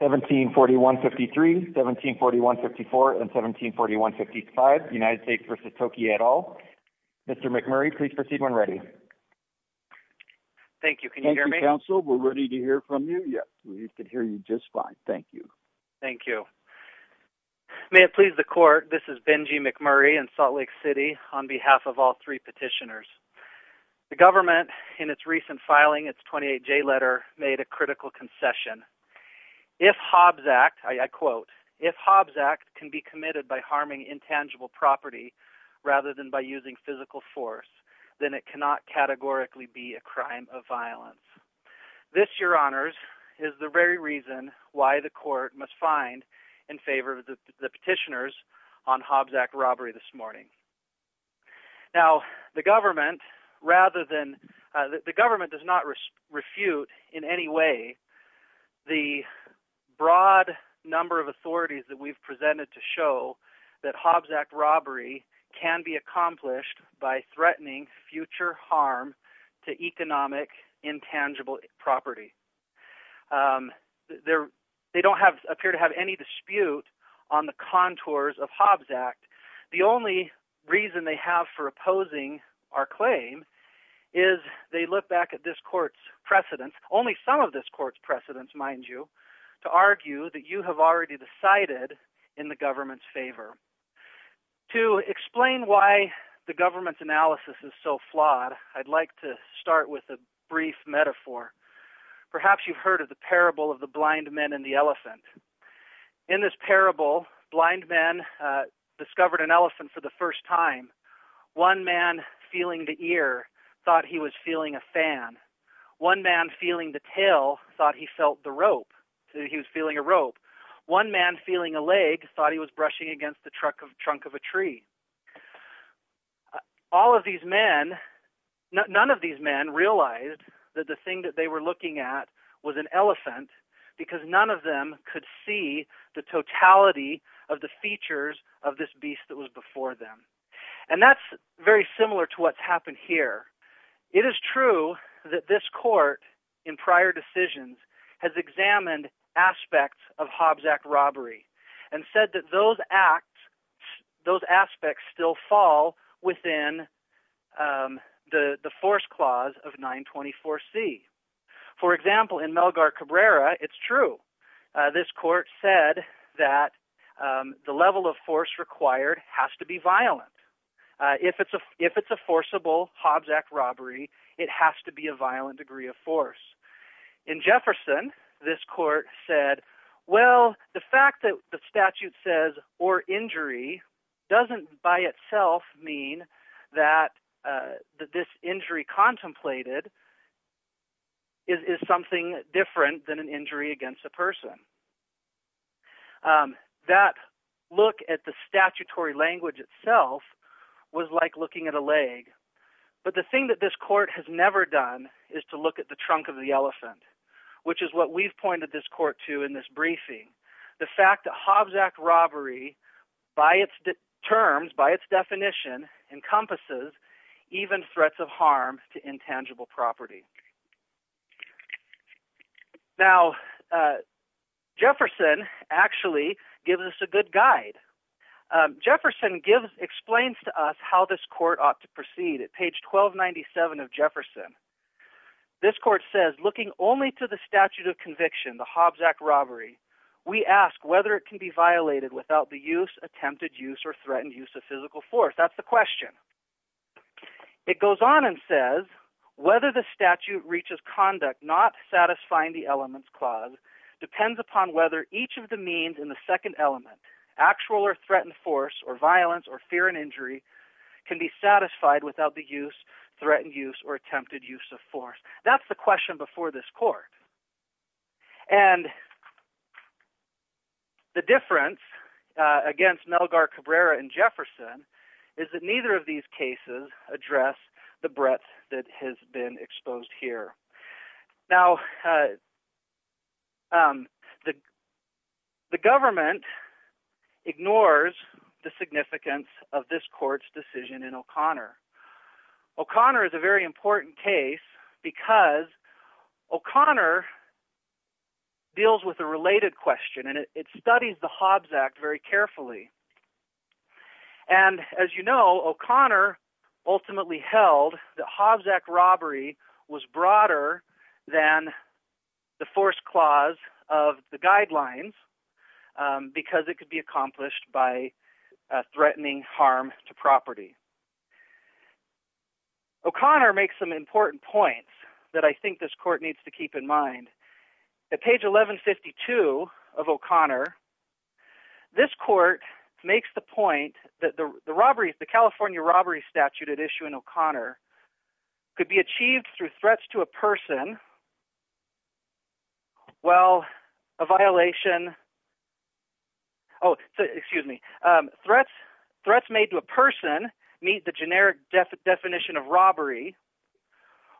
1741-53, 1741-54, and 1741-55, United States v. Toki et al. Mr. McMurray, please proceed when ready. Thank you. Can you hear me? Thank you, counsel. We're ready to hear from you. Yes, we can hear you just fine. Thank you. Thank you. May it please the court, this is Benji McMurray in Salt Lake City on behalf of all three petitioners. The government, in its recent filing, its 28J letter, made a critical concession. If Hobbs Act, I quote, if Hobbs Act can be committed by harming intangible property rather than by using physical force, then it cannot categorically be a crime of violence. This, your honors, is the very reason why the court must find in favor of the petitioners on Hobbs Act robbery this morning. Now, the government, rather than, the government does not refute in any way the broad number of authorities that we've presented to show that Hobbs Act robbery can be accomplished by threatening future harm to economic intangible property. They don't appear to have any dispute on the contours of Hobbs Act. The only reason they have for opposing our claim is they look back at this court's precedents, only some of this court's precedents, mind you, to argue that you have already decided in the government's favor. To explain why the government's analysis is so flawed, I'd like to start with a brief metaphor. Perhaps you've heard of the parable of the blind men and the elephant. In this parable, blind men discovered an elephant for the first time. One man feeling the ear thought he was feeling a fan. One man feeling the tail thought he felt the rope, so he was feeling a rope. One man feeling a leg thought he was brushing against the trunk of a tree. All of these men, none of these men, realized that the thing that they were looking at was an elephant. None of them could see the totality of the features of this beast that was before them. And that's very similar to what's happened here. It is true that this court, in prior decisions, has examined aspects of Hobbs Act robbery, and said that those acts, those aspects still fall within the force clause of 924C. For example, in Melgar Cabrera, it's true. This court said that the level of force required has to be violent. If it's a forcible Hobbs Act robbery, it has to be a violent degree of force. In Jefferson, this court said, well, the fact that the statute says, or injury, doesn't by itself mean that this injury contemplated is something different than an injury against a person. That look at the statutory language itself was like looking at a leg. But the thing that this court has never done is to look at the trunk of the elephant, which is what we've pointed this court to in this briefing. The fact that Hobbs Act robbery, by its terms, by its definition, encompasses even threats of harm to intangible property. Now, Jefferson actually gives us a good guide. Jefferson explains to us how this court ought to proceed. At page 1297 of Jefferson, this court says, looking only to the statute of conviction, the Hobbs Act robbery, we ask whether it can be violated without the use, attempted use, or threatened use of physical force. That's the question. It goes on and says, whether the statute reaches conduct not satisfying the elements clause depends upon whether each of the means in the second element, actual or threatened force or violence or fear and injury, can be satisfied without the use, threatened use, or attempted use of force. That's the question before this court. And the difference against Melgar Cabrera and Jefferson is that neither of these cases address the breadth that has been exposed here. Now, the government ignores the significance of this court's decision in O'Connor. O'Connor is a very important case because O'Connor deals with a related question and it studies the Hobbs Act very carefully. And as you know, O'Connor ultimately held that Hobbs Act robbery was broader than the force clause of the guidelines because it could be accomplished by threatening harm to O'Connor makes some important points that I think this court needs to keep in mind. At page 1152 of O'Connor, this court makes the point that the robbery, the California robbery statute at issue in O'Connor, could be achieved through threats to a person while a violation, oh excuse me, threats made to a person meet the generic definition of robbery,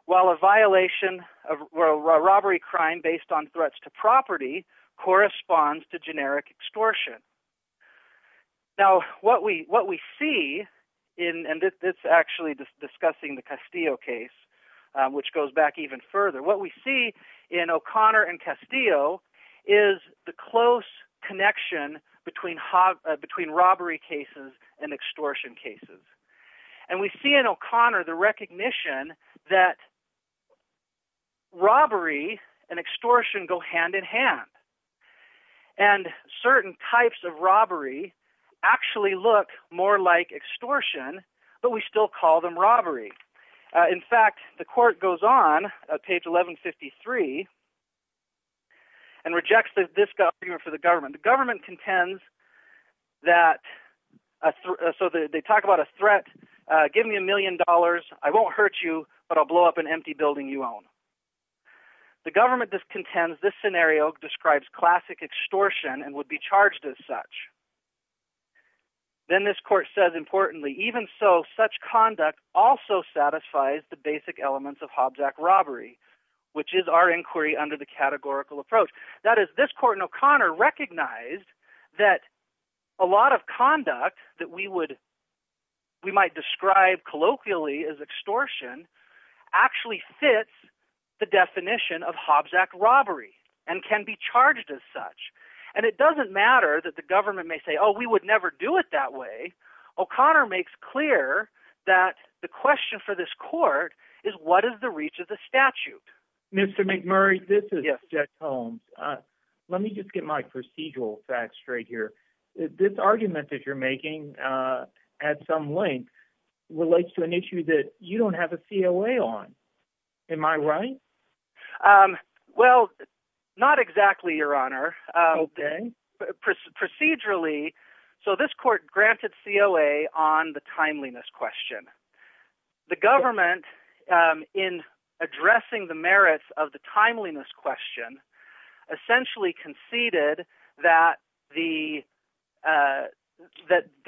while a violation of a robbery crime based on threats to property corresponds to generic extortion. Now, what we see, and this is actually discussing the Castillo case, which goes back even further, what we see in O'Connor and Castillo is the close connection between robbery cases and extortion cases. And we see in O'Connor the recognition that robbery and extortion go hand in hand. And certain types of robbery actually look more like extortion, but we still call them robbery. In fact, the court goes on, page 1153, and rejects this argument for the government. The government contends that, so they talk about a threat, give me a million dollars, I won't hurt you, but I'll blow up an empty building you own. The government contends this scenario describes classic extortion and would be charged as such. Then this court says, importantly, even so, such conduct also satisfies the basic elements of Hobbs Act robbery, which is our inquiry under the categorical approach. That is, this court in O'Connor recognized that a lot of conduct that we would, we might describe colloquially as extortion, actually fits the definition of Hobbs Act robbery and can be charged as such. And it doesn't matter that the government may say, oh, we would never do it that way. O'Connor makes clear that the reach of the statute. Mr. McMurray, this is Jeff Holmes. Let me just get my procedural facts straight here. This argument that you're making at some length relates to an issue that you don't have a COA on. Am I right? Well, not exactly, Your Honor. Okay. Procedurally, so this court granted COA on the timeliness question. The government, in addressing the merits of the timeliness question, essentially conceded that the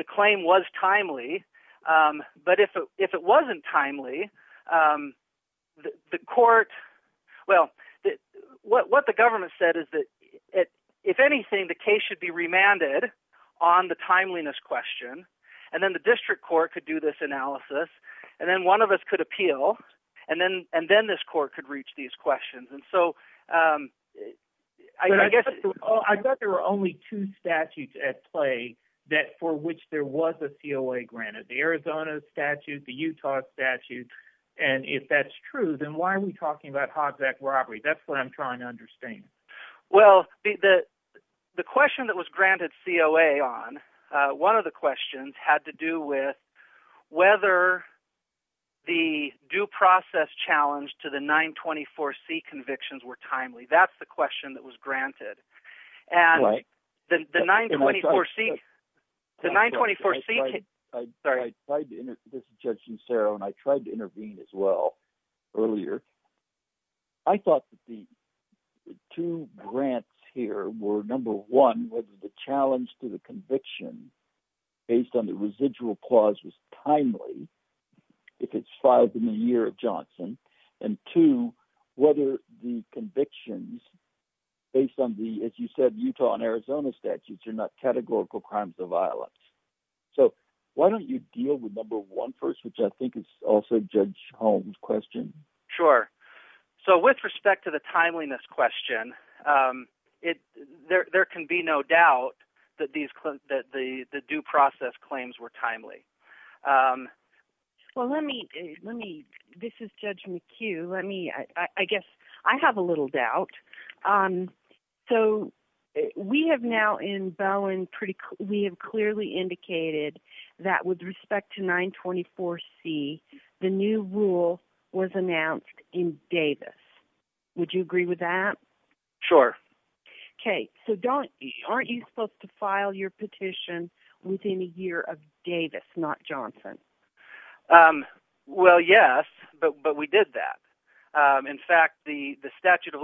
claim was timely. But if it wasn't timely, the court, well, what the government said is that, if anything, the case should be remanded on the timeliness question, and then the district court could do this analysis, and then one of us could appeal, and then this court could reach these questions. And so I guess- I thought there were only two statutes at play that for which there was a COA granted. The Arizona statute, the Utah statute. And if that's true, then why are we talking about Hobbs Act robbery? That's what I'm trying to understand. Well, the question that was granted COA on, one of the questions had to do with whether the due process challenge to the 924C convictions were timely. That's the question that was granted. And the 924C- The 924C- Sorry. I tried to intervene as well earlier. I thought that the two grants here were, number one, whether the challenge to the conviction based on the as you said, Utah and Arizona statutes are not categorical crimes of violence. So why don't you deal with number one first, which I think is also Judge Holmes' question? Sure. So with respect to the timeliness question, there can be no doubt that the due process claims were timely. Well, so we have now in Bowen, we have clearly indicated that with respect to 924C, the new rule was announced in Davis. Would you agree with that? Sure. Okay. So Don, aren't you supposed to file your petition within a year of Davis, not Johnson? Well, yes, but we did that. In fact, the statute of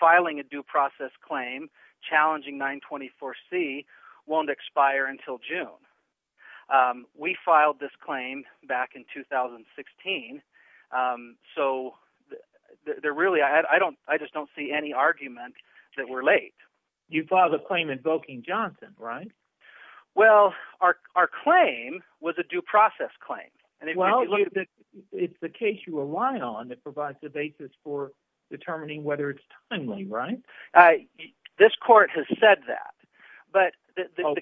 filing a due process claim, challenging 924C, won't expire until June. We filed this claim back in 2016. So I just don't see any argument that we're late. You filed a claim invoking Johnson, right? Well, our claim was a due process claim. Well, it's the case you rely on that provides the basis for determining whether it's timely, right? This court has said that, but the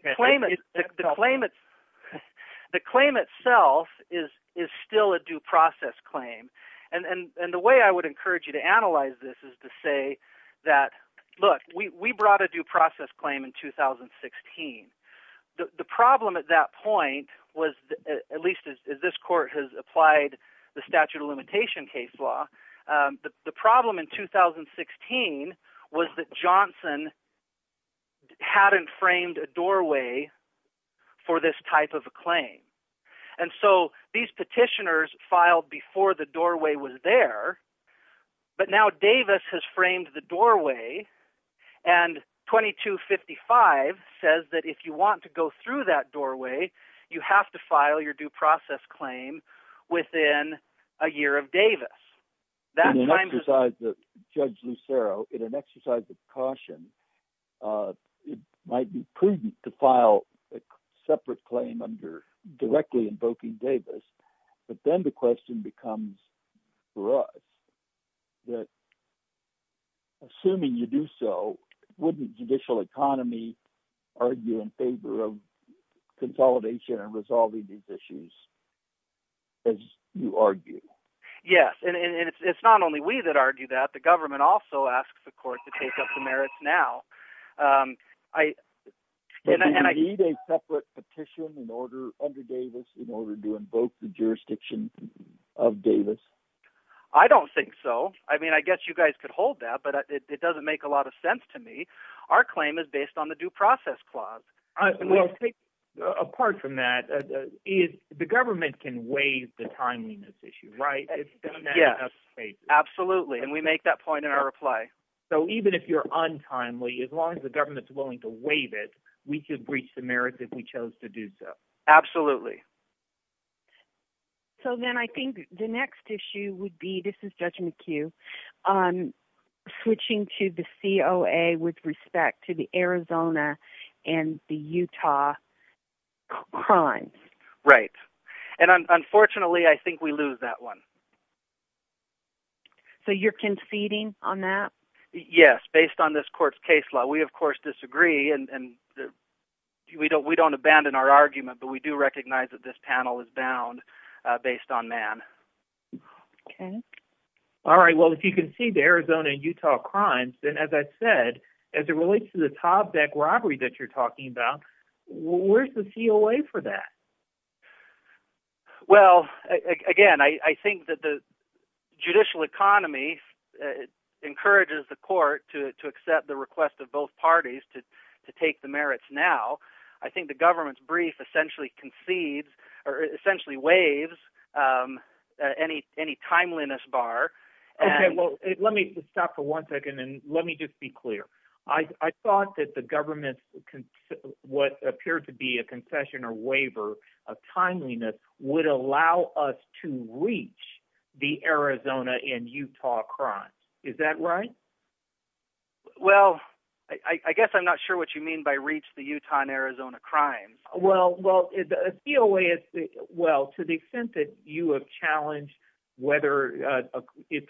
claim itself is still a due process claim. And the way I would encourage you to analyze this is to say that, look, we brought a due process claim in 2016. The problem at that point was, at least as this court has applied the statute of limitation case law, the problem in 2016 was that Johnson hadn't framed a doorway for this type of a claim. And so these petitioners filed before the doorway was there, but now Davis has framed the doorway and 2255 says that if you want to go that doorway, you have to file your due process claim within a year of Davis. In an exercise that, Judge Lucero, in an exercise of caution, it might be prudent to file a separate claim under directly invoking Davis, but then the question becomes for us that assuming you do so, wouldn't judicial economy argue in favor of consolidation and resolving these issues, as you argue? Yes, and it's not only we that argue that, the government also asks the court to take up the merits now. Do you need a separate petition under Davis in order to invoke the jurisdiction of Davis? I don't think so. I mean, I guess you guys could hold that, but it doesn't make a lot of sense to me. Our claim is based on the due process clause. Well, apart from that, the government can waive the timeliness issue, right? Yes, absolutely. And we make that point in our reply. So even if you're untimely, as long as the government's willing to waive it, we could breach the merits if we chose to do so. So then I think the next issue would be, this is Judge McHugh, switching to the COA with respect to the Arizona and the Utah crimes. Right, and unfortunately, I think we lose that one. So you're conceding on that? Yes, based on this court's case law. We, of course, disagree, and we don't abandon our argument, but we do recognize that this panel is bound based on man. Okay. All right. Well, if you concede the Arizona and Utah crimes, then as I said, as it relates to the Tobec robbery that you're talking about, where's the COA for that? Well, again, I think that the judicial economy encourages the court to accept the request of both parties to take the merits now. I think the government's brief essentially concedes or essentially waives any timeliness bar. Okay, well, let me stop for one second and let me just be clear. I thought that the government, what appeared to be a concession or waiver of timeliness would allow us to reach the Arizona and Utah crimes. Is that right? Well, I guess I'm not sure what you mean by reach the Utah and Arizona crimes. Well, to the extent that you have challenged whether it's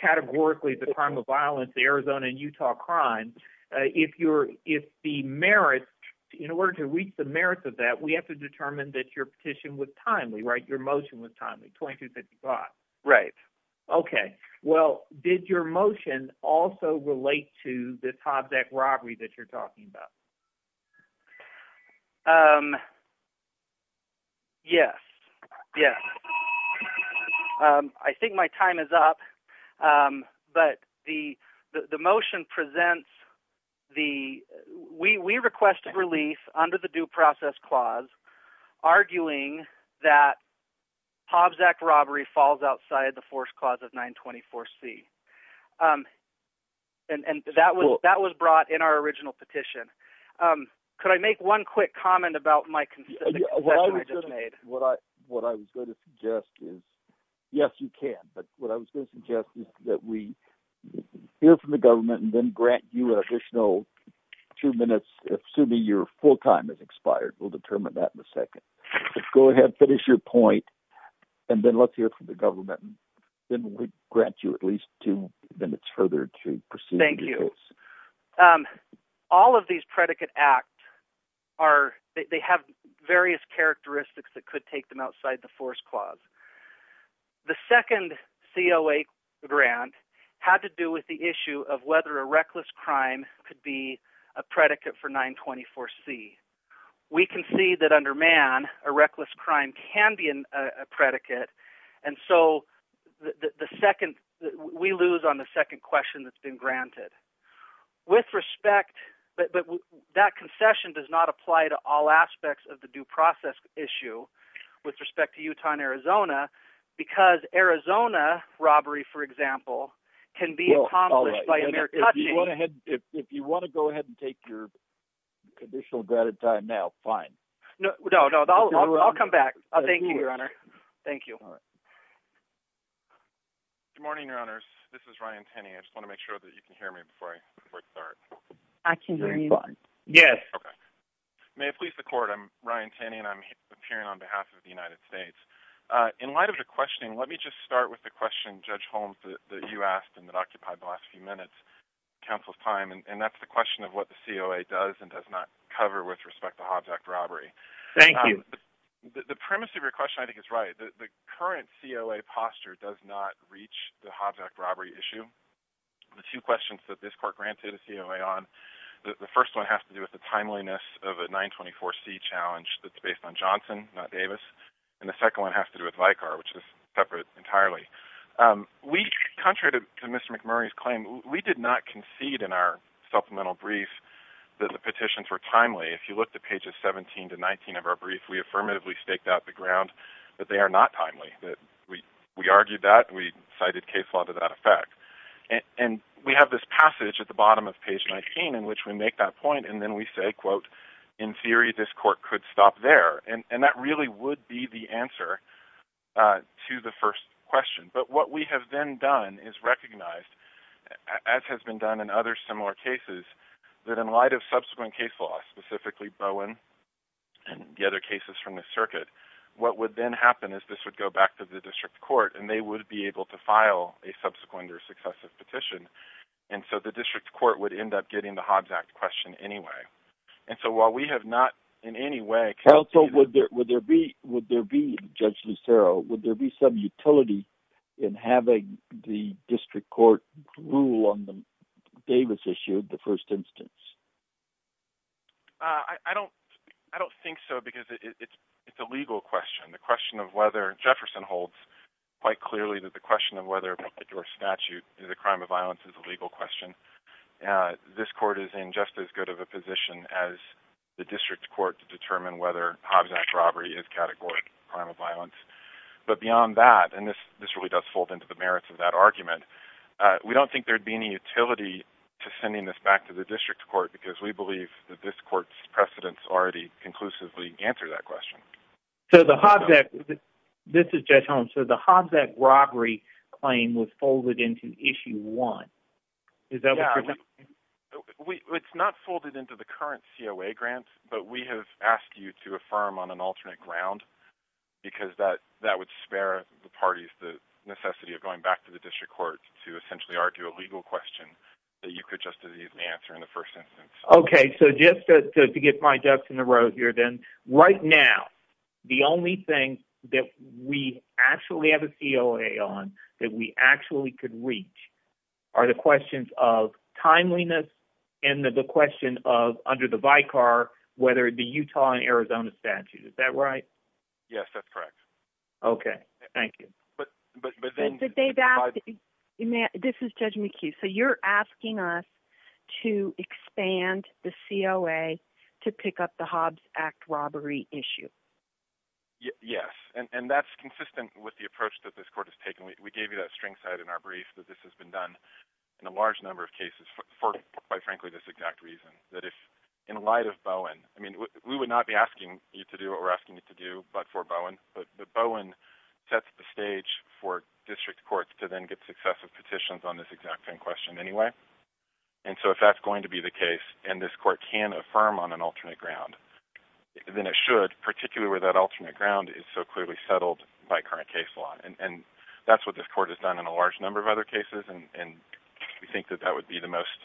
categorically the crime of violence, the Arizona and Utah crimes, in order to reach the merits of that, we have to determine that your petition was timely, right? Your motion was timely, 2255. Right. Okay. Well, did your motion also relate to the Tobec robbery that you're talking about? Yes. Yes. I think my time is up, but the motion presents the... We requested relief under the arguing that Tobec robbery falls outside the force clause of 924C. And that was brought in our original petition. Could I make one quick comment about my concession I just made? What I was going to suggest is... Yes, you can. But what I was going to suggest is that we hear from the government and then grant you an additional two minutes, assuming your full time has expired. We'll determine that in a second. Let's go ahead and finish your point, and then let's hear from the government. Then we grant you at least two minutes further to proceed. Thank you. All of these predicate acts, they have various characteristics that could take them outside the force clause. The second COA grant had to do with the issue of whether a can see that under man, a reckless crime can be a predicate. And so we lose on the second question that's been granted. But that concession does not apply to all aspects of the due process issue with respect to Utah and Arizona, because Arizona robbery, for example, can be accomplished by additional granted time now. Fine. No, I'll come back. Thank you, Your Honor. Thank you. Good morning, Your Honors. This is Ryan Tenney. I just want to make sure that you can hear me before I start. I can hear you. Yes. Okay. May it please the court, I'm Ryan Tenney and I'm appearing on behalf of the United States. In light of the questioning, let me just start with the question, Judge Holmes, that you asked and that occupied the last few minutes, counsel's time. And that's the question of what the COA does and does not cover with respect to Hobbs Act robbery. Thank you. The premise of your question, I think is right. The current COA posture does not reach the Hobbs Act robbery issue. The two questions that this court granted a COA on, the first one has to do with the timeliness of a 924 C challenge that's based on Johnson, not Davis. And the second one has to do with Vicar, which is separate entirely. We, contrary to Mr. McMurray's claim, we did not concede in our supplemental brief that the petitions were timely. If you look at pages 17 to 19 of our brief, we affirmatively staked out the ground that they are not timely, that we, we argued that we cited case law to that effect. And we have this passage at the bottom of page 19, in which we make that point. And then we say, quote, in theory, this court could stop there. And that really would be the answer to the first question. But what we have then done is recognized, as has been done in other similar cases, that in light of subsequent case law, specifically Bowen and the other cases from the circuit, what would then happen is this would go back to the district court and they would be able to file a subsequent or successive petition. And so the district court would end up getting the Hobbs Act question anyway. And so while we have not in any way- Counsel, would there be, Judge Lucero, would there be some utility in having the district court rule on the Davis issue, the first instance? I don't, I don't think so, because it's, it's a legal question. The question of whether, Jefferson holds quite clearly that the question of whether your statute is a crime of violence is a legal question. This court is in just as good of a position as the district court to determine whether Hobbs Act robbery is categorically a crime of violence. But beyond that, and this, this really does fold into the merits of that argument, we don't think there'd be any utility to sending this back to the district court, because we believe that this court's precedents already conclusively answer that question. So the Hobbs Act, this is Judge Holmes, so the Hobbs Act robbery claim was folded into issue one. Is that what you're saying? It's not folded into the current COA grant, but we have asked you to affirm on an alternate ground, because that, that would spare the parties the necessity of going back to the district court to essentially argue a legal question that you could just as easily answer in the first instance. Okay, so just to get my ducks in the road here then, right now, the only thing that we actually have a COA on that we actually could reach are the questions of timeliness and the question of under the Vicar, whether the Utah and Arizona statute, is that right? Yes, that's correct. Okay, thank you. But, but, but then this is Judge McHugh. So you're asking us to expand the COA to pick up the Hobbs Act robbery issue? Yes, and that's consistent with the approach that this court has taken. We gave you that string side in our brief that this has been done in a large number of cases for, quite frankly, this exact reason. That if, in light of Bowen, I mean, we would not be asking you to do what we're asking you to do, but for Bowen, but Bowen sets the stage for district courts to then get successive petitions on this exact same question anyway. And so if that's going to be the case, and this court can affirm on an alternate ground, then it should, particularly where that alternate ground is so clearly settled by current case law. And, and that's what this court has done in a large number of other cases. And we think that that would be the most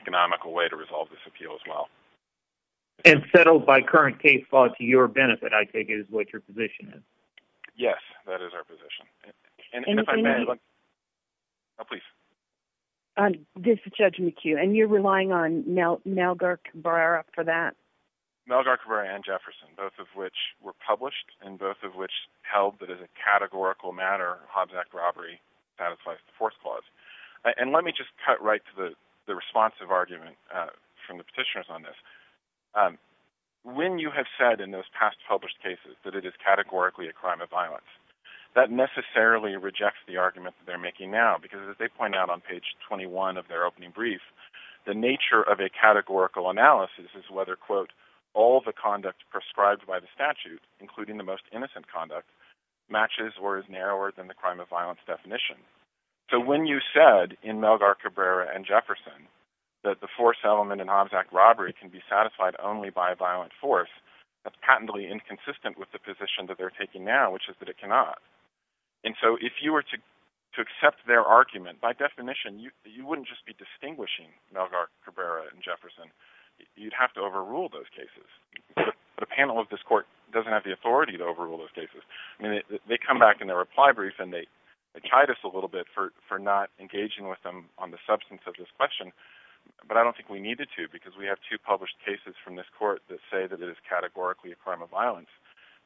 economical way to resolve this appeal as well. And settled by current case law to your benefit, I take it, is what your position is. Yes, that is our position. And if I may, oh please. This is Judge McHugh, and you're relying on Melgar Cabrera for that? Melgar Cabrera and Jefferson, both of which were published, and both of which held that as a categorical matter, Hobbs Act robbery satisfies the fourth clause. And let me just cut right to the responsive argument from the petitioners on this. When you have said in those past published cases that it is categorically a crime of violence, that necessarily rejects the argument that they're making now, because as they point out on page 21 of their opening brief, the nature of a categorical analysis is whether, quote, all the conduct prescribed by the statute, including the most innocent conduct, matches or is narrower than the crime of violence definition. So when you said in Melgar Cabrera and Jefferson that the fourth settlement in Hobbs Act robbery can be satisfied only by a violent force, that's patently inconsistent with the position that they're taking now, which is that it cannot. And so if you were to accept their argument, by definition, you wouldn't just be distinguishing Melgar Cabrera and Jefferson. You'd have to have the authority to overrule those cases. I mean, they come back in their reply brief, and they chide us a little bit for not engaging with them on the substance of this question. But I don't think we needed to, because we have two published cases from this court that say that it is categorically a crime of violence,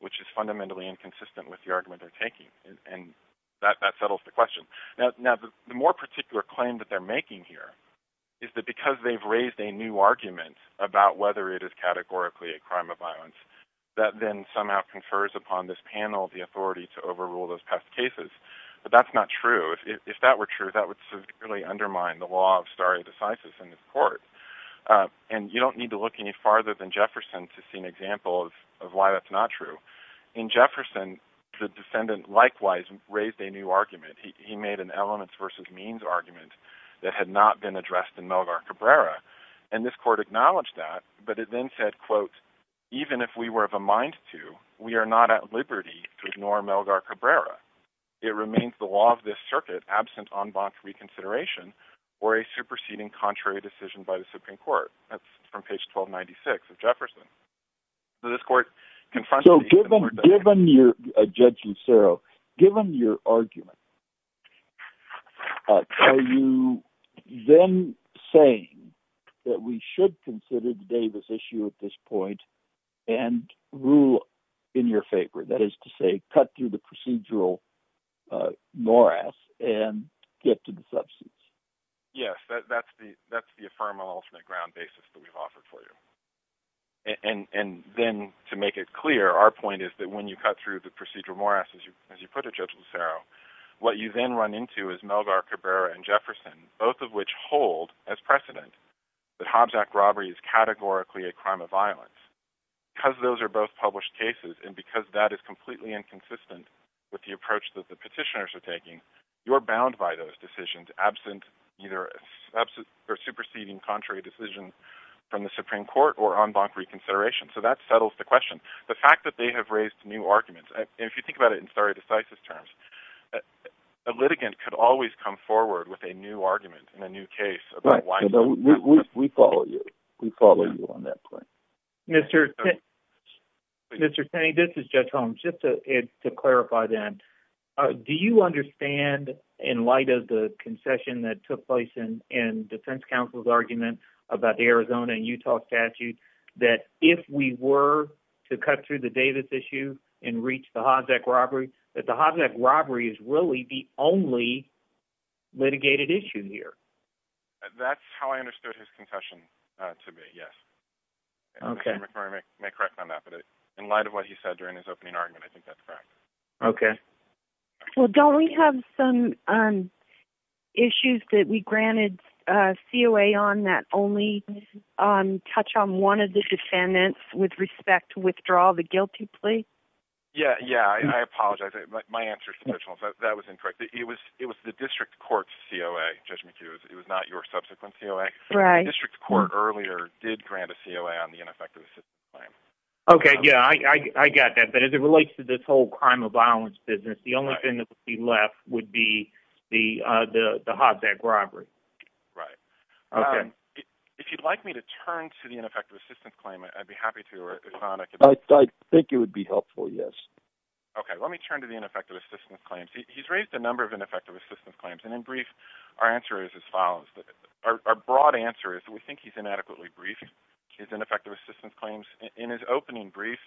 which is fundamentally inconsistent with the argument they're taking. And that settles the question. Now, the more particular claim that they're making here is that because they've raised a new argument about whether it is categorically a crime of violence, it somehow confers upon this panel the authority to overrule those past cases. But that's not true. If that were true, that would severely undermine the law of stare decisis in this court. And you don't need to look any farther than Jefferson to see an example of why that's not true. In Jefferson, the defendant likewise raised a new argument. He made an elements versus means argument that had not been addressed in Melgar Cabrera. And this court acknowledged that, but it then said, quote, even if we were of a mind to, we are not at liberty to ignore Melgar Cabrera. It remains the law of this circuit, absent en banc reconsideration or a superseding contrary decision by the Supreme Court. That's from page 1296 of Jefferson. So this court confronts... So given your, Judge Lucero, given your argument, are you then saying that we should consider Davis issue at this point and rule in your favor? That is to say, cut through the procedural morass and get to the substance. Yes, that's the, that's the affirmal ultimate ground basis that we've offered for you. And then to make it clear, our point is that when you cut through the procedural morass, as you put it, Judge Lucero, what you then run into is Melgar Cabrera and Jefferson, both of which hold as precedent that Hobbs Act robbery is categorically a crime of violence because those are both published cases. And because that is completely inconsistent with the approach that the petitioners are taking, you're bound by those decisions, absent either a superseding contrary decision from the Supreme Court or en banc reconsideration. So that settles the question, the fact that they have raised new arguments. And if you think about it in stare decisis terms, a litigant could always come forward with a new argument in a new case. We follow you. We follow you on that point. Mr. Taney, this is Judge Holmes. Just to clarify then, do you understand in light of the concession that took place in defense counsel's argument about the Arizona and Utah statute, that if we were to cut through the Davis issue and reach the Hobbs Act robbery, that the Hobbs Act robbery is really the only litigated issue here? That's how I understood his concession to be, yes. Okay. Mr. McMurray may correct on that, but in light of what he said during his opening argument, I think that's correct. Okay. Well, don't we have some issues that we granted COA on that only touch on one of the defendants with respect to withdraw the guilty plea? Yeah. Yeah. I apologize. My answer to Judge Holmes, that was incorrect. It was the district court's COA, Judge McHugh's. It was not your subsequent COA. The district court earlier did grant a COA on the ineffective assistance claim. Okay. Yeah. I got that. But as it relates to this whole crime of violence business, the only thing that would be left would be the Hobbs Act robbery. Right. If you'd like me to turn to the ineffective assistance claim, I'd be happy to. I think it would be helpful. Yes. Okay. Let me turn to the ineffective assistance claims. He's raised a number of ineffective assistance claims. And in brief, our answer is as follows. Our broad answer is that we think he's inadequately briefed his ineffective assistance claims. In his opening brief,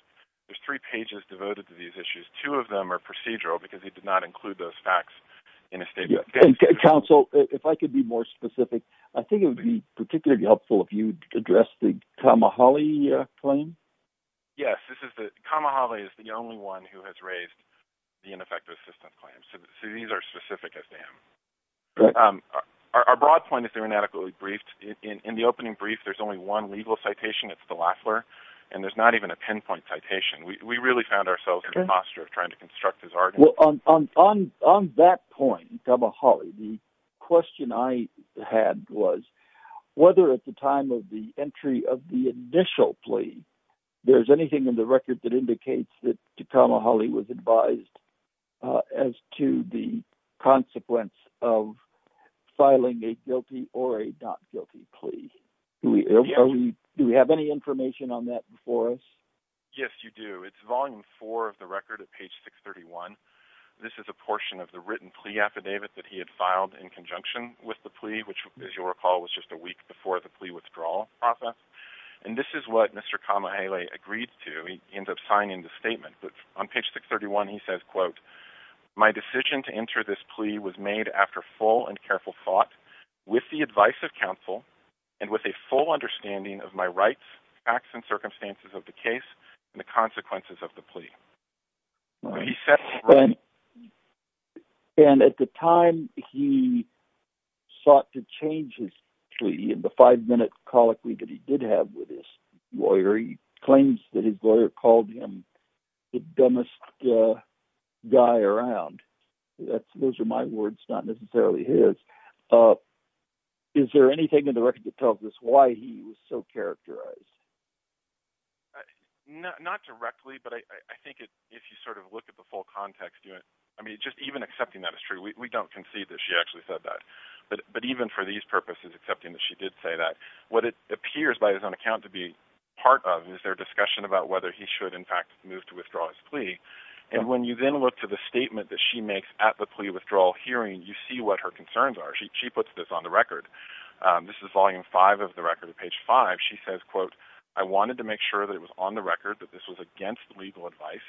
there's three pages devoted to these issues. Two of them are procedural because he did not include those facts in a statement. Counsel, if I could be more specific, I think it would be particularly helpful if you addressed the Kamahalei claim. Yes. Kamahalei is the only one who has raised the ineffective assistance claims. So these are specific as to him. Our broad point is they're inadequately briefed. In the opening brief, there's only one legal citation. It's the Lafleur. And there's not even a pinpoint citation. We really found ourselves in a posture of trying to construct his argument. On that point, Kamahalei, the question I had was whether at the time of the entry of the initial plea, there's anything in the record that indicates that Kamahalei was advised as to the consequence of filing a guilty or a not guilty plea. Do we have any information on that before us? Yes, you do. It's volume four of the record at page 631. This is a portion of the written plea affidavit that he had filed in conjunction with the plea, which, as you'll recall, was just a week before the plea withdrawal process. And this is what Mr. Kamahalei agreed to. He ends up signing the statement. But on page 631, he says, quote, my decision to enter this plea was made after full and careful thought, with the advice of counsel, and with a full understanding of my rights, facts, and circumstances of the case, and the consequences of the plea. And at the time he sought to change his plea in the five-minute colloquy that he did have with his lawyer, he claims that his lawyer called him the dumbest guy around. Those are my words, not necessarily his. Is there anything in the record that tells us why he was so characterized? Not directly, but I think if you sort of look at the full context, I mean, just even accepting that is true. We don't concede that she actually said that. But even for these purposes, accepting that she did say that, what it appears by his own account to be part of is their discussion about whether he should, in fact, move to withdraw his plea. And when you then look to the statement that she makes at the plea withdrawal hearing, you see what her concerns are. She puts this on the record. This is volume 5 of the record, page 5. She says, quote, I wanted to make sure that it was on the record that this was against legal advice.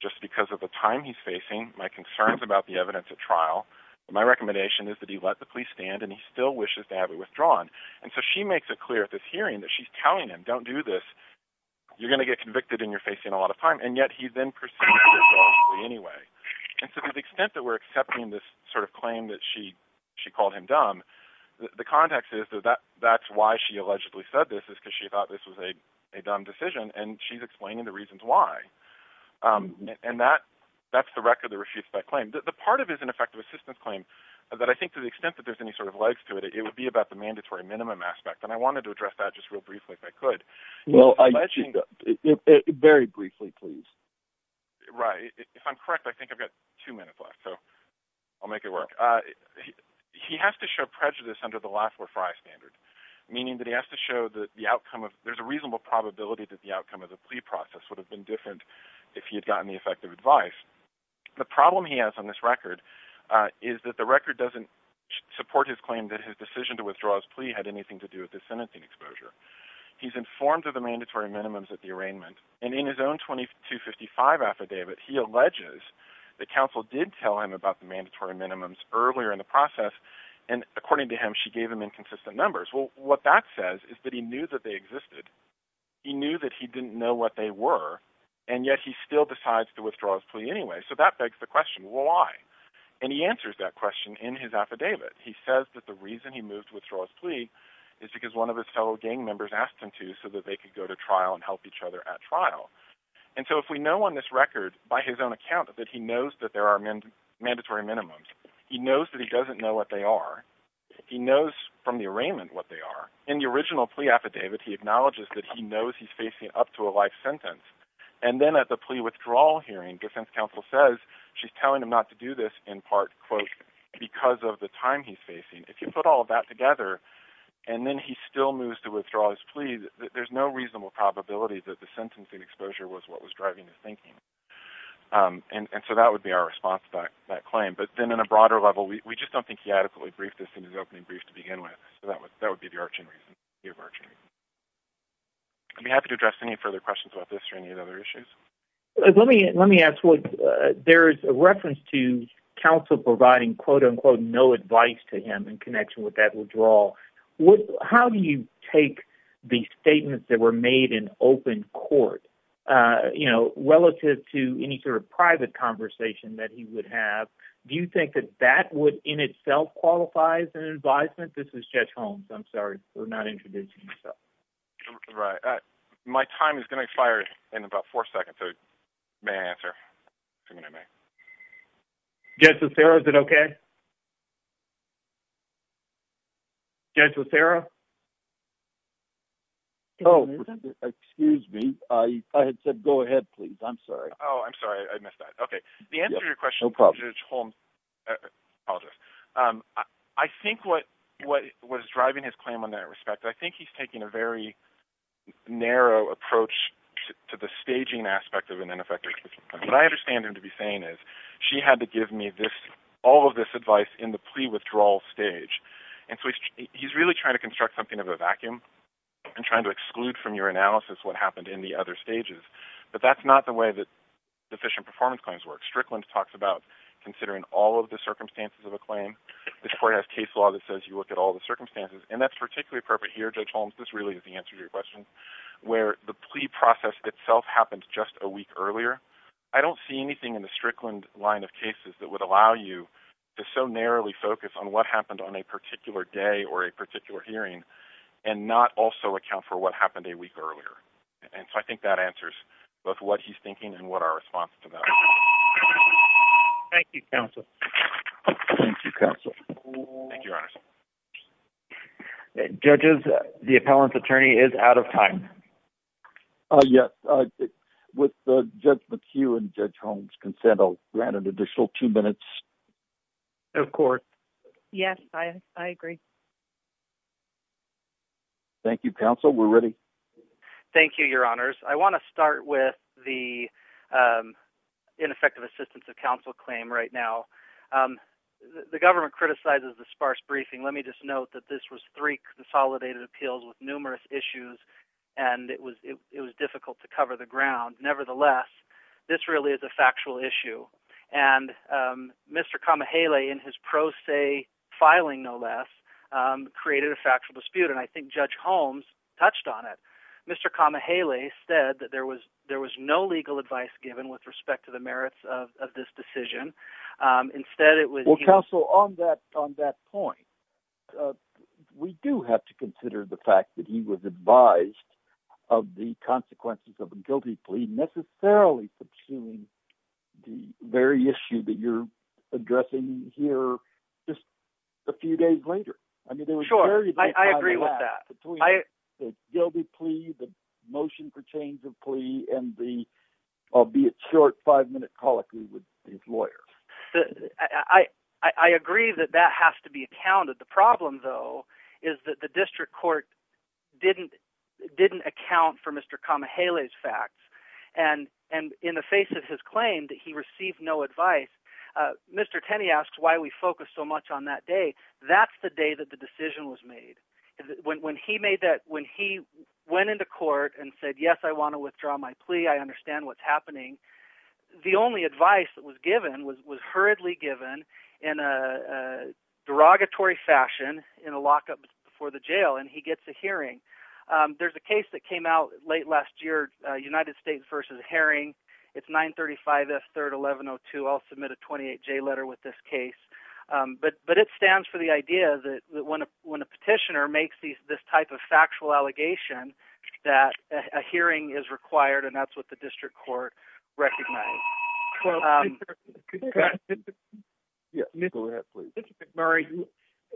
Just because of the time he's facing, my concerns about the evidence at trial, my recommendation is that he let the police stand, and he still wishes to have it withdrawn. And so she makes it clear at this hearing that she's telling him, don't do this. You're going to get convicted, and you're facing a lot of time. And yet he then proceeds to withdraw his plea anyway. And to the extent that we're accepting this sort of claim that she called him dumb, the context is that that's why she allegedly said this, is because she thought this was a dumb decision, and she's explaining the reasons why. And that's the record that refutes that claim. The part of it is an effective assistance claim, that I think to the extent that there's any sort of legs to it, it would be about the mandatory minimum aspect. And I wanted to address that just real briefly, if I could. Well, very briefly, please. Right. If I'm correct, I think I've got two minutes left, so I'll make it work. He has to show prejudice under the LaFleur Frye standard, meaning that he has to show that there's a reasonable probability that the outcome of the plea process would have been different if he had gotten the effective advice. The problem he has on this record is that the record doesn't support his claim that his decision to withdraw his plea had anything to do with his sentencing exposure. He's informed of the mandatory minimums at the arraignment, and in his own 2255 affidavit, he alleges that counsel did tell him about the mandatory minimums earlier in the process, and according to him, she gave him inconsistent numbers. Well, what that says is that he knew that they existed, he knew that he didn't know what they were, and yet he still decides to withdraw his plea anyway. So that begs the question, why? And he answers that question in his affidavit. He says that the reason he moved to withdraw his plea is because one of his fellow gang members asked him to so that they could go to trial and help each other at trial. And so if we know on this record, by his own account, that he knows that there are mandatory minimums, he knows that he doesn't know what they are, he knows from the arraignment what they are. In the original plea affidavit, he acknowledges that he knows he's facing up to a life sentence, and then at the plea withdrawal hearing, defense counsel says she's telling him to do this in part, quote, because of the time he's facing. If you put all of that together, and then he still moves to withdraw his plea, there's no reasonable probability that the sentencing exposure was what was driving his thinking. And so that would be our response to that claim. But then on a broader level, we just don't think he adequately briefed this in his opening brief to begin with. So that would be the arching reason. I'd be happy to address any questions about this or any other issues. Let me ask, there's a reference to counsel providing, quote, unquote, no advice to him in connection with that withdrawal. How do you take the statements that were made in open court, you know, relative to any sort of private conversation that he would have? Do you think that that would in itself qualify as an advisement? This is Judge Holmes. I'm sorry for not introducing myself. Right. My time is going to expire in about four seconds. So may I answer? Judge LaSera, is it okay? Judge LaSera? Oh, excuse me. I had said, go ahead, please. I'm sorry. Oh, I'm sorry. I missed that. Okay. The answer to your question, Judge Holmes, apologies. I think what was driving his claim on that respect, I think he's taking a very to the staging aspect of an ineffective case. What I understand him to be saying is she had to give me this, all of this advice in the plea withdrawal stage. And so he's really trying to construct something of a vacuum and trying to exclude from your analysis what happened in the other stages. But that's not the way that deficient performance claims work. Strickland talks about considering all of the circumstances of a claim. This court has case law that says you look at all the circumstances. And that's particularly appropriate here, Judge Holmes, this really is the answer to your question, where the plea process itself happens just a week earlier. I don't see anything in the Strickland line of cases that would allow you to so narrowly focus on what happened on a particular day or a particular hearing and not also account for what happened a week earlier. And so I think that answers both what he's thinking and what our response to that is. Thank you, counsel. Thank you, counsel. Thank you, Your Honors. Judges, the appellant's attorney is out of time. Yes. With Judge McHugh and Judge Holmes' consent, I'll grant an additional two minutes. Of course. Yes, I agree. Thank you, counsel. We're ready. Thank you, Your Honors. I want to start with the ineffective assistance of counsel claim right now. The government criticizes the sparse briefing. Let me just note that this was three consolidated appeals with numerous issues, and it was difficult to cover the ground. Nevertheless, this really is a factual issue. And Mr. Kamahele in his pro se filing, no less, created a factual dispute. And I think Judge Holmes touched on it. Mr. Kamahele said that there was no legal advice given with respect to the merits of this decision. Instead, it was... Well, counsel, on that point, we do have to consider the fact that he was advised of the consequences of a guilty plea necessarily subsuming the very issue that you're addressing here just a few days later. I mean, there was very little time left between the guilty plea, the motion for change of plea, and the albeit short five-minute colloquy with his lawyer. I agree that that has to be accounted. The problem, though, is that the district court didn't account for Mr. Kamahele's facts. And in the face of his claim that he received no advice, Mr. Tenney asks why we focus so much on that day. That's the day that the decision was made. When he made that... When he went into court and said, yes, I want to withdraw my plea, I understand what's happening, the only advice that was given was hurriedly given in a derogatory fashion in a lockup before the jail, and he gets a hearing. There's a case that came out late last year, United States v. Herring. It's 935S 3-1102. I'll submit a 28-J letter with this case. But it stands for the idea that when a petitioner makes this type of factual allegation, that a hearing is required, and that's what the district court recognized. Mr. McMurray,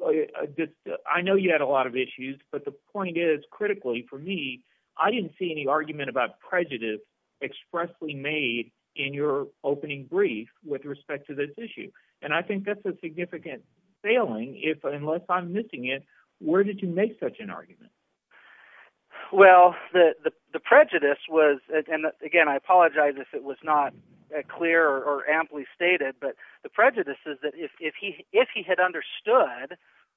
I know you had a lot of issues, but the point is, critically, for me, I didn't see any argument about prejudice expressly made in your opening brief with respect to this issue. And I think that's a significant failing unless I'm missing it. Where did you make an argument? Well, the prejudice was... And again, I apologize if it was not clear or amply stated, but the prejudice is that if he had understood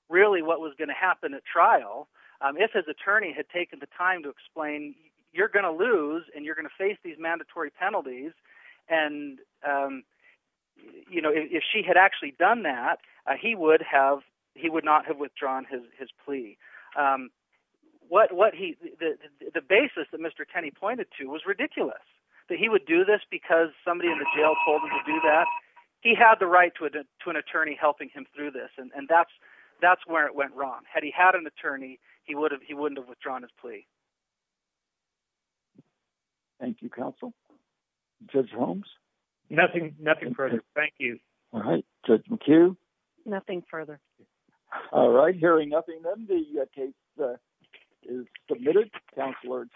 really what was going to happen at trial, if his attorney had taken the time to explain, you're going to lose and you're going to face these mandatory penalties, and if she had actually done that, he would not have withdrawn his plea. What he... The basis that Mr. Tenney pointed to was ridiculous, that he would do this because somebody in the jail told him to do that. He had the right to an attorney helping him through this, and that's where it went wrong. Had he had an attorney, he wouldn't have withdrawn his plea. Thank you, counsel. Judge Holmes? Nothing further. Thank you. All right. Judge McHugh? Nothing further. All right. Hearing nothing, then the case is submitted. Counselor Hughes?